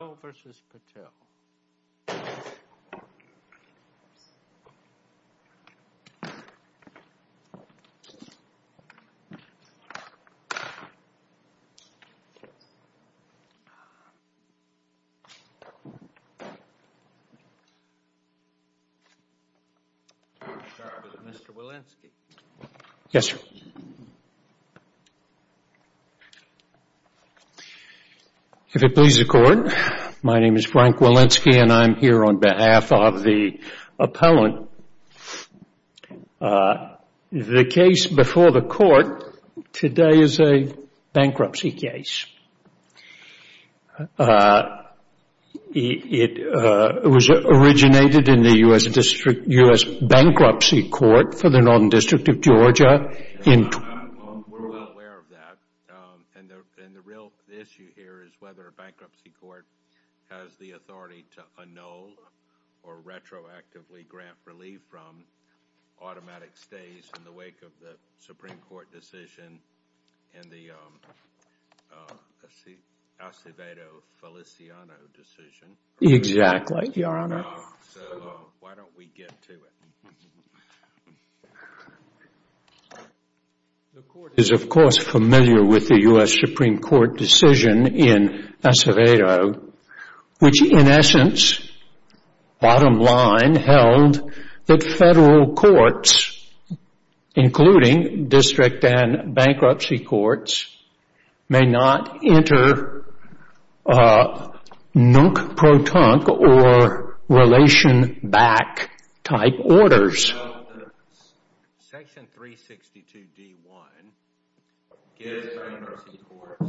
Patel v. Rishi Patel Mr. Wilensky If it pleases the Court, my name is Frank Wilensky and I am here on behalf of the appellant. The case before the Court today is a bankruptcy case. It was originated in the U.S. Bankruptcy Court for the Northern District of Georgia in 2012. We're well aware of that. And the real issue here is whether a bankruptcy court has the authority to annul or retroactively grant relief from automatic stays in the wake of the Supreme Court decision and the Acevedo-Feliciano decision. Exactly, Your Honor. So, why don't we get to it. The Court is, of course, familiar with the U.S. Supreme Court decision in Acevedo, which in essence, bottom line, held that federal courts, including district and bankruptcy courts, may not enter nunc protunc or relation back type orders. Section 362d.1 gives bankruptcy courts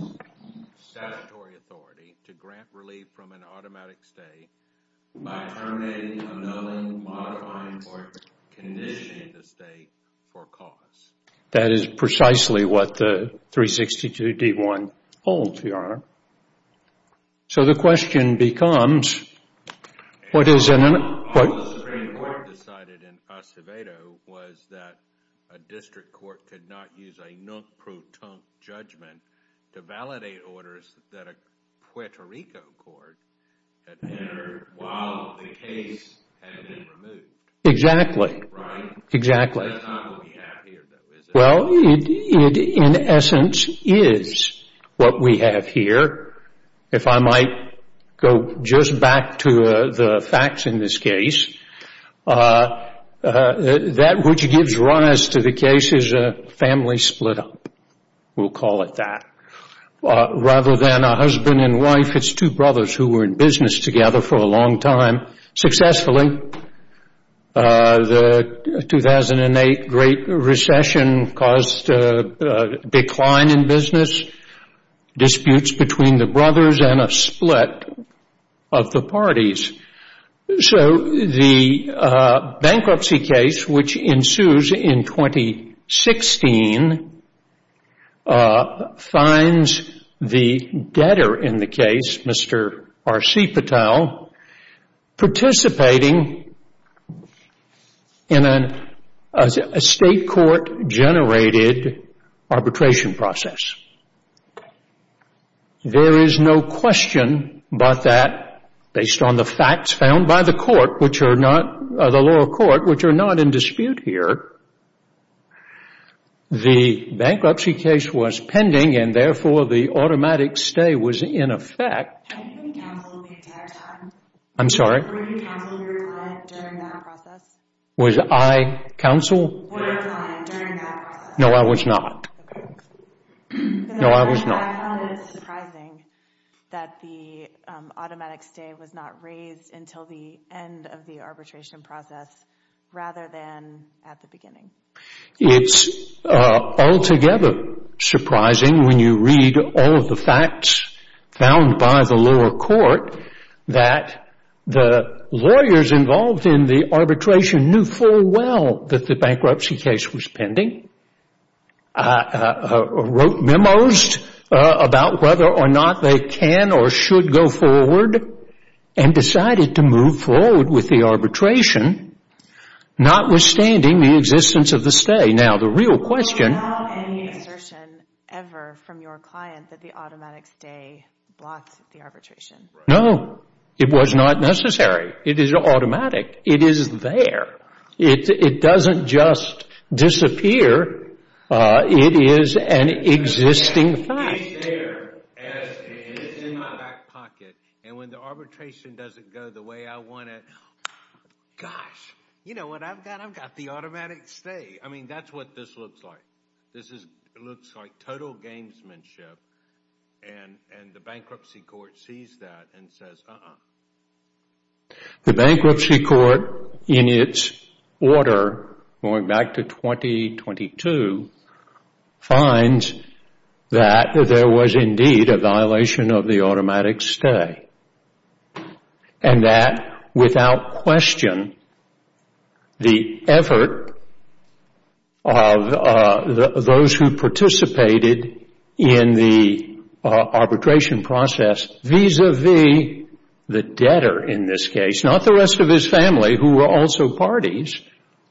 statutory authority to grant relief from an automatic stay by terminating, annulling, modifying, or conditioning the stay for cause. That is precisely what the 362d.1 holds, Your Honor. So, the question becomes... All the Supreme Court decided in Acevedo was that a district court could not use a nunc protunc judgment to validate orders that a Puerto Rico court had entered while the case had been removed. Exactly. Right? Exactly. Well, in essence, it is what we have here. If I might go just back to the facts in this case, that which gives rise to the case is a family split up. We'll call it that. Rather than a husband and wife, it's two brothers who were in business together for a long time. Successfully, the 2008 Great Recession caused a decline in business, disputes between the brothers, and a split of the parties. So, the bankruptcy case, which ensues in 2016, finds the debtor in the case, Mr. R.C. Patel, participating in a state court-generated arbitration process. There is no question but that, based on the facts found by the court, which are not... the lower court, which are not in dispute here, the bankruptcy case was pending and therefore the automatic stay was in effect. Have you been counsel during that time? I'm sorry? Were you counsel during that process? Was I counsel? Were you counsel during that process? No, I was not. No, I was not. I found it surprising that the automatic stay was not raised until the end of the arbitration process rather than at the beginning. It's altogether surprising when you read all of the facts found by the lower court that the lawyers involved in the arbitration knew full well that the bankruptcy case was pending, wrote memos about whether or not they can or should go forward, and decided to move forward with the arbitration, notwithstanding the existence of the stay. Now, the real question... Was there not any assertion ever from your client that the automatic stay blocked the arbitration? No. It was not necessary. It is automatic. It is there. It doesn't just disappear. It is an existing fact. It's there, and it's in my back pocket, and when the arbitration doesn't go the way I want it, gosh, you know what I've got? I've got the automatic stay. I mean, that's what this looks like. This looks like total gamesmanship, and the bankruptcy court sees that and says, uh-uh. The bankruptcy court, in its order going back to 2022, finds that there was indeed a violation of the automatic stay, and that, without question, the effort of those who participated in the arbitration process vis-à-vis the debtor in this case, not the rest of his family who were also parties,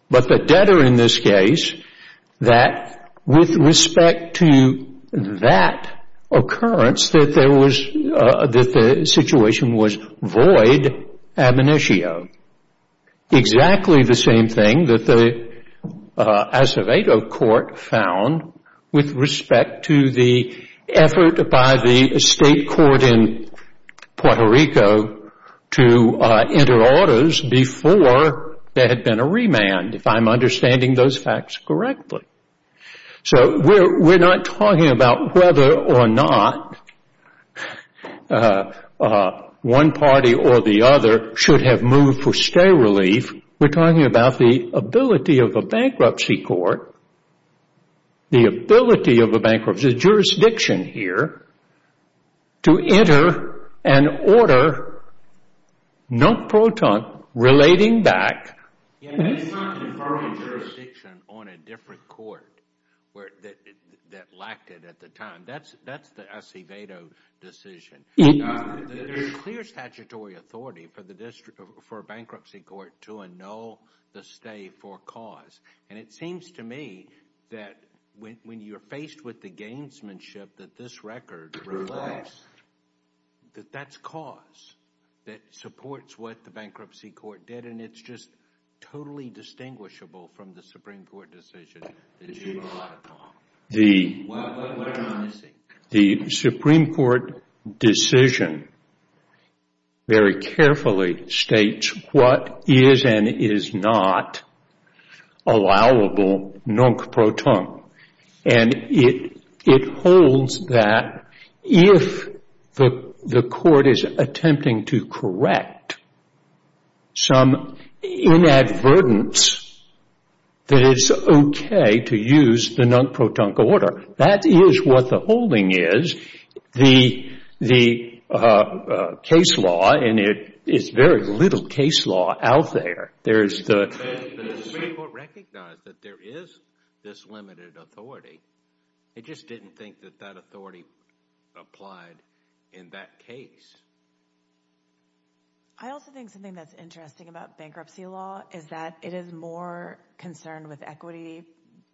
but the debtor in this case, that with respect to that occurrence, that the situation was void ab initio. Exactly the same thing that the Acevedo court found with respect to the effort by the state court in Puerto Rico to enter orders before there had been a remand, if I'm understanding those facts correctly. So we're not talking about whether or not one party or the other should have moved for stay relief. We're talking about the ability of a bankruptcy court, the ability of a bankruptcy jurisdiction here, to enter an order, non-proton, relating back. Yeah, that's not conferring jurisdiction on a different court that lacked it at the time. That's the Acevedo decision. There's clear statutory authority for a bankruptcy court to annul the stay for cause, and it seems to me that when you're faced with the gamesmanship that this record reflects, that that's cause that supports what the bankruptcy court did, and it's just totally distinguishable from the Supreme Court decision that you relied upon. What am I missing? The Supreme Court decision very carefully states what is and is not allowable non-proton, and it holds that if the court is attempting to correct some inadvertence, that it's okay to use the non-proton order. That is what the holding is. The case law, and there's very little case law out there. The Supreme Court recognized that there is this limited authority. It just didn't think that that authority applied in that case. I also think something that's interesting about bankruptcy law is that it is more concerned with equity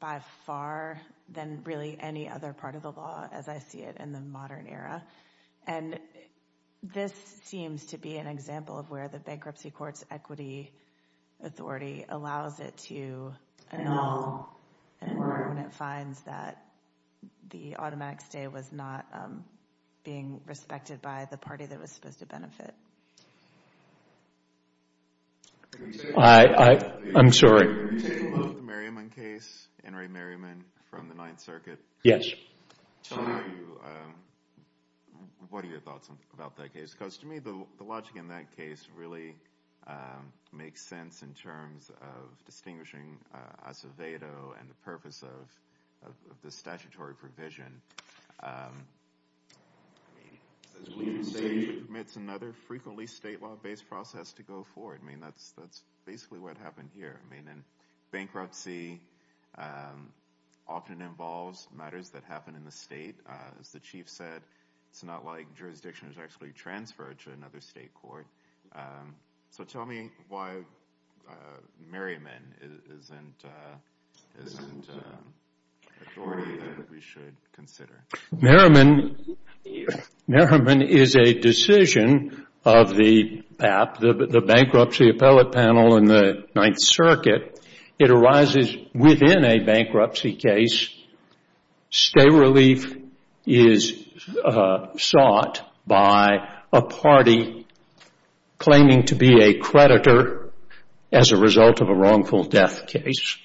by far than really any other part of the law as I see it in the modern era, and this seems to be an example of where the bankruptcy court's equity authority allows it to annul when it finds that the automatic stay was not being respected by the party that was supposed to benefit. I'm sorry. Can you take a look at the Merriman case, Henry Merriman from the Ninth Circuit? Yes. What are your thoughts about that case? Because to me, the logic in that case really makes sense in terms of distinguishing Acevedo and the purpose of the statutory provision. It's another frequently state law-based process to go forward. I mean, that's basically what happened here. Bankruptcy often involves matters that happen in the state. As the Chief said, it's not like jurisdiction is actually transferred to another state court. So tell me why Merriman isn't an authority that we should consider. Merriman is a decision of the BAP, the Bankruptcy Appellate Panel in the Ninth Circuit, it arises within a bankruptcy case. Stay relief is sought by a party claiming to be a creditor as a result of a wrongful death case.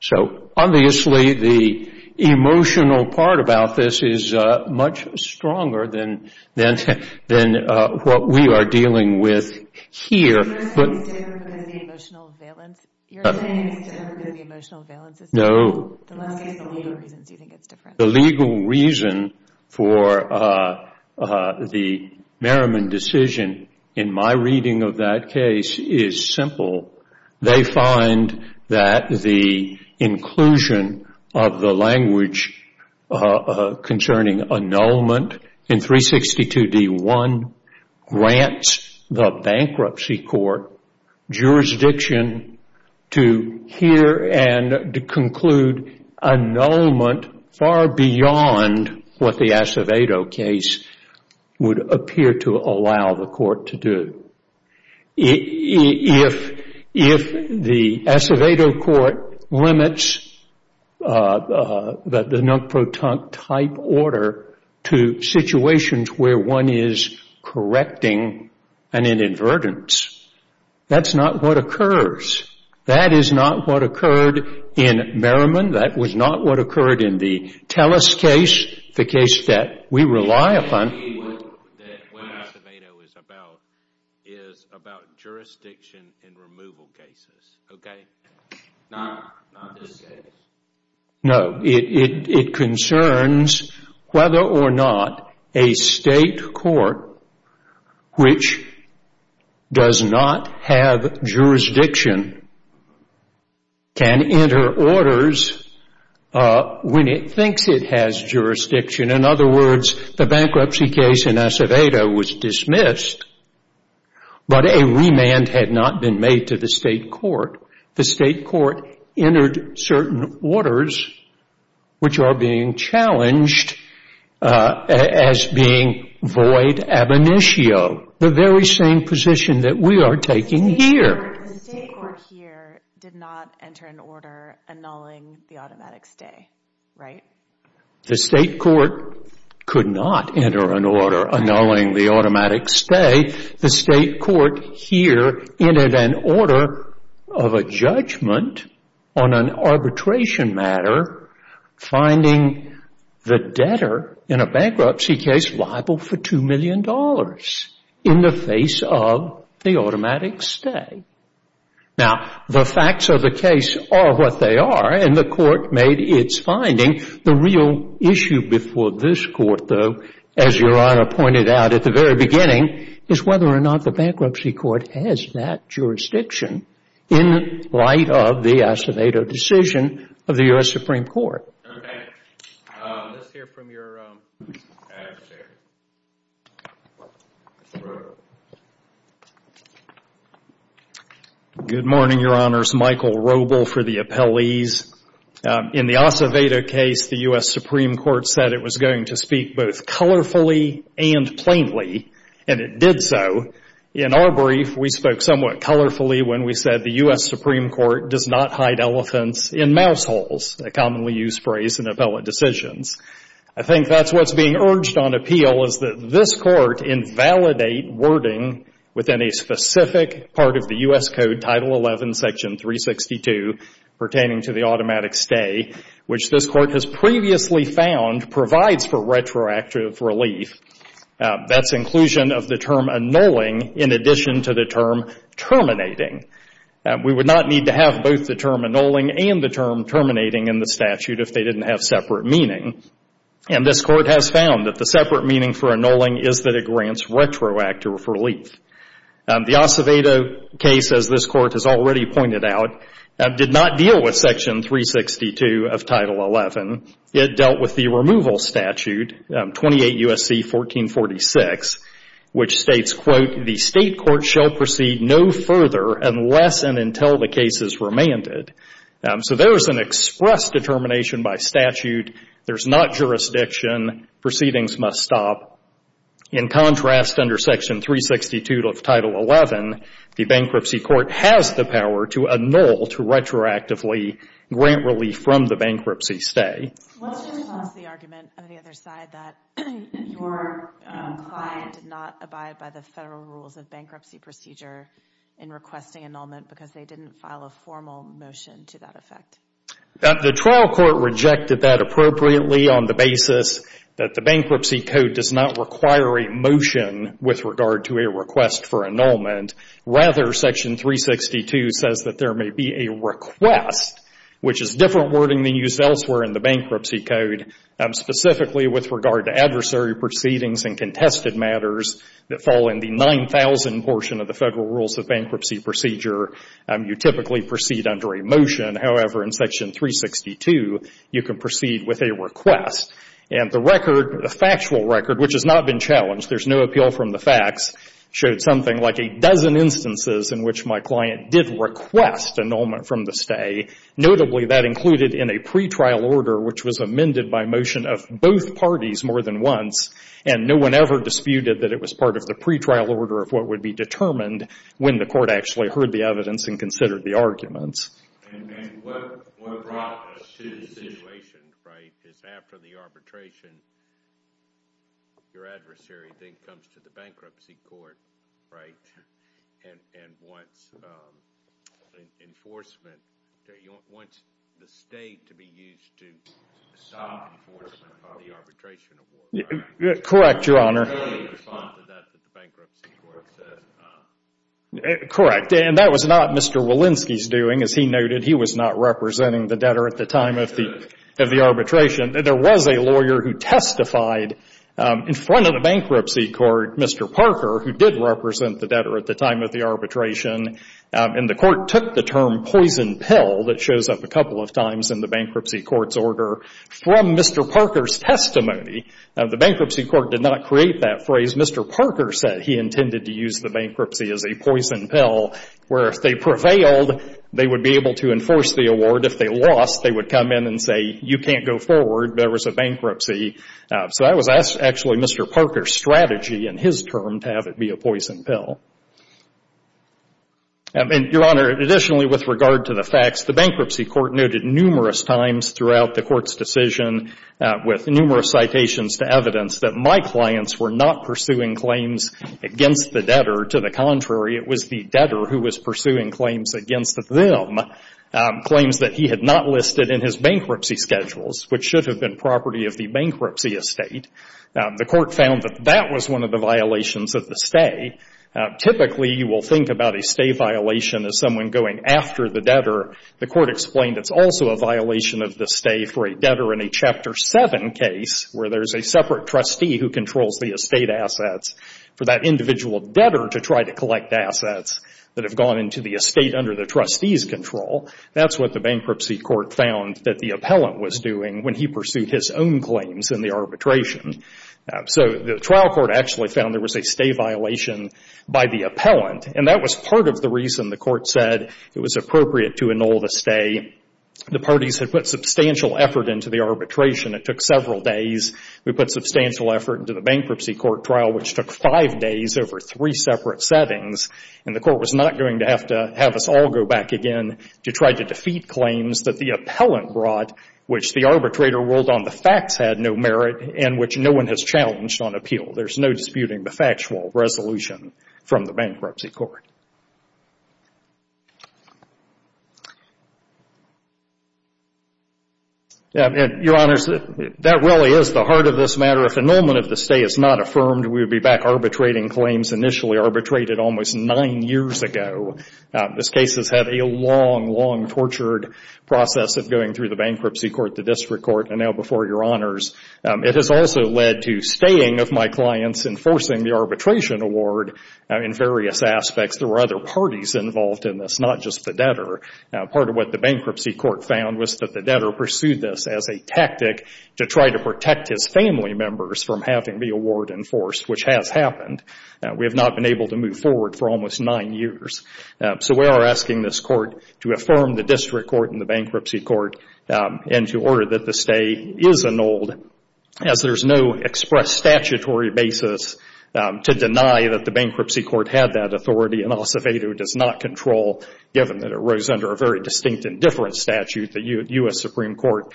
So obviously, the emotional part about this is much stronger than what we are dealing with here. Are you saying it's different because of the emotional valence? No. The legal reason for the Merriman decision in my reading of that case is simple. They find that the inclusion of the language concerning annulment in 362D1 grants the bankruptcy court jurisdiction to hear and conclude annulment far beyond what the Acevedo case would appear to allow the court to do. If the Acevedo court limits the non-proton type order to situations where one is correcting an inadvertence, that's not what occurs. That is not what occurred in Merriman. That was not what occurred in the Telus case, the case that we rely upon. What Acevedo is about is about jurisdiction in removal cases, okay? Not this case. No. It concerns whether or not a state court which does not have jurisdiction can enter orders when it thinks it has jurisdiction. In other words, the bankruptcy case in Acevedo was dismissed, but a remand had not been made to the state court. The state court entered certain orders which are being challenged as being void ab initio, the very same position that we are taking here. The state court here did not enter an order annulling the automatic stay, right? The state court could not enter an order annulling the automatic stay. The state court here entered an order of a judgment on an arbitration matter finding the debtor in a bankruptcy case liable for $2 million in the face of the automatic stay. Now, the facts of the case are what they are, and the court made its finding. The real issue before this court, though, as Your Honor pointed out at the very beginning, is whether or not the bankruptcy court has that jurisdiction in light of the Acevedo decision of the U.S. Supreme Court. Okay. Let's hear from your attorney. Good morning, Your Honors. Michael Roble for the appellees. In the Acevedo case, the U.S. Supreme Court said it was going to speak both colorfully and plainly, and it did so. In our brief, we spoke somewhat colorfully when we said the U.S. Supreme Court does not hide elephants in mouse holes, a commonly used phrase in appellate decisions. I think that's what's being urged on appeal is that this court invalidate wording within a specific part of the U.S. Code, Title XI, Section 362, pertaining to the automatic stay, which this court has previously found provides for retroactive relief. That's inclusion of the term annulling in addition to the term terminating. We would not need to have both the term annulling and the term terminating in the statute if they didn't have separate meaning. And this court has found that the separate meaning for annulling is that it grants retroactive relief. The Acevedo case, as this court has already pointed out, did not deal with Section 362 of Title XI. It dealt with the removal statute, 28 U.S.C. 1446, which states, quote, the state court shall proceed no further unless and until the case is remanded. So there is an express determination by statute. There's not jurisdiction. Proceedings must stop. In contrast, under Section 362 of Title XI, the bankruptcy court has the power to annul, to retroactively grant relief from the bankruptcy stay. Let's just toss the argument on the other side that your client did not abide by the federal rules of bankruptcy procedure in requesting annulment because they didn't file a formal motion to that effect. The trial court rejected that appropriately on the basis that the bankruptcy code does not require a motion with regard to a request for annulment. Rather, Section 362 says that there may be a request, which is different wording than used elsewhere in the bankruptcy code, specifically with regard to adversary proceedings and contested matters that fall in the 9000 portion of the federal rules of bankruptcy procedure. You typically proceed under a motion. However, in Section 362, you can proceed with a request. And the record, the factual record, which has not been challenged, there's no appeal from the facts, showed something like a dozen instances in which my client did request annulment from the stay. Notably, that included in a pretrial order, which was amended by motion of both parties more than once, and no one ever disputed that it was part of the pretrial order of what would be determined when the court actually heard the evidence and considered the arguments. And what brought us to this situation, right, is after the arbitration, your adversary then comes to the bankruptcy court, right, and wants enforcement, wants the state to be used to stop enforcement of the arbitration award. Correct, Your Honor. Early response to that that the bankruptcy court said. Correct. And that was not Mr. Walensky's doing. As he noted, he was not representing the debtor at the time of the arbitration. There was a lawyer who testified in front of the bankruptcy court, Mr. Parker, who did represent the debtor at the time of the arbitration. And the court took the term poison pill that shows up a couple of times in the bankruptcy court's order from Mr. Parker's testimony. Now, the bankruptcy court did not create that phrase. Mr. Parker said he intended to use the bankruptcy as a poison pill, where if they prevailed, they would be able to enforce the award. If they lost, they would come in and say, you can't go forward, there was a bankruptcy. So that was actually Mr. Parker's strategy in his term to have it be a poison pill. And, Your Honor, additionally with regard to the facts, the bankruptcy court noted numerous times throughout the court's decision with numerous citations to evidence that my clients were not pursuing claims against the debtor. To the contrary, it was the debtor who was pursuing claims against them, claims that he had not listed in his bankruptcy schedules, which should have been property of the bankruptcy estate. The court found that that was one of the violations of the stay. Typically, you will think about a stay violation as someone going after the debtor. The court explained it's also a violation of the stay for a debtor in a Chapter 7 case where there's a separate trustee who controls the estate assets for that individual debtor to try to collect assets that have gone into the estate under the trustee's control. That's what the bankruptcy court found that the appellant was doing when he pursued his own claims in the arbitration. So the trial court actually found there was a stay violation by the appellant, and that was part of the reason the court said it was appropriate to annul the stay. The parties had put substantial effort into the arbitration. It took several days. We put substantial effort into the bankruptcy court trial, which took five days over three separate settings, and the court was not going to have to have us all go back again to try to defeat claims that the appellant brought, which the arbitrator ruled on the facts had no merit and which no one has challenged on appeal. There's no disputing the factual resolution from the bankruptcy court. Your Honors, that really is the heart of this matter. If annulment of the stay is not affirmed, we would be back arbitrating claims initially arbitrated almost nine years ago. This case has had a long, long tortured process of going through the bankruptcy court, the district court, and now before Your Honors. It has also led to staying of my clients, enforcing the arbitration award in various aspects. There were other parties involved in this, not just the debtor. Part of what the bankruptcy court found was that the debtor pursued this as a tactic to try to protect his family members from having the award enforced, which has happened. We have not been able to move forward for almost nine years. So we are asking this court to affirm the district court and the bankruptcy court and to order that the stay is annulled, as there is no express statutory basis to deny that the bankruptcy court had that authority and also that it does not control, given that it rose under a very distinct and different statute the U.S. Supreme Court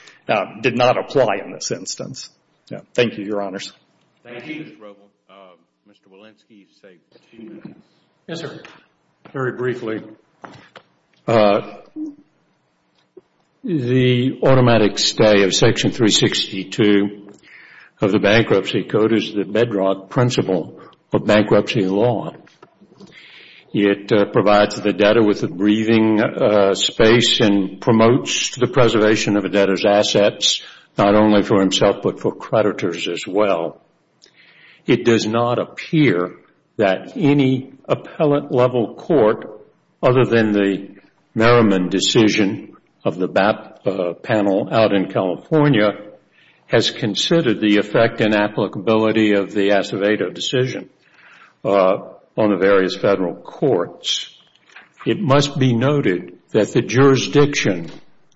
did not apply in this instance. Thank you, Your Honors. Thank you, Mr. Roble. Mr. Walensky, say a few words. Yes, sir. Very briefly, the automatic stay of Section 362 of the bankruptcy code is the bedrock principle of bankruptcy law. It provides the debtor with a breathing space and promotes the preservation of a debtor's assets, not only for himself but for creditors as well. It does not appear that any appellate-level court, other than the Merriman decision of the BAP panel out in California, has considered the effect and applicability of the Acevedo decision on the various Federal courts. It must be noted that the jurisdiction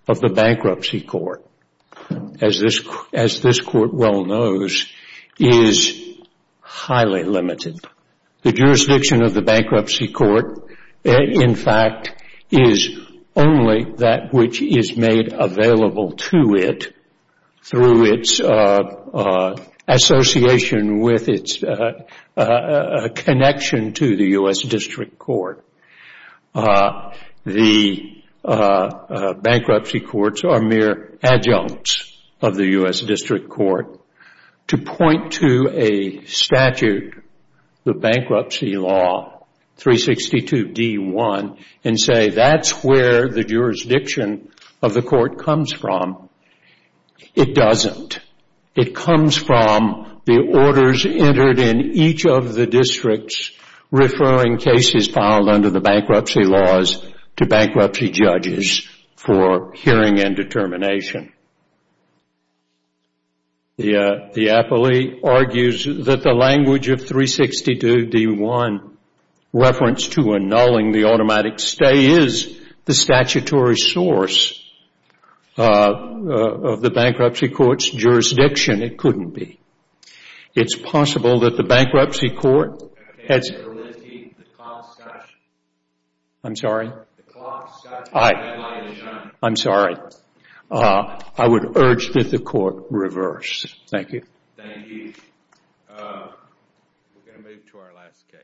of the bankruptcy court, as this court well knows, is highly limited. The jurisdiction of the bankruptcy court, in fact, is only that which is made available to it through its association with its connection to the U.S. District Court. The bankruptcy courts are mere adjuncts of the U.S. District Court. To point to a statute, the Bankruptcy Law 362D1, and say that's where the jurisdiction of the court comes from, it doesn't. It comes from the orders entered in each of the districts referring cases filed under the bankruptcy laws to bankruptcy judges for hearing and determination. The appellee argues that the language of 362D1, reference to annulling the automatic stay, is the statutory source of the bankruptcy court's jurisdiction. It couldn't be. It's possible that the bankruptcy court has... I'm sorry? I'm sorry. I would urge that the court reverse. Thank you. Thank you. We're going to move to our last case. Thank you.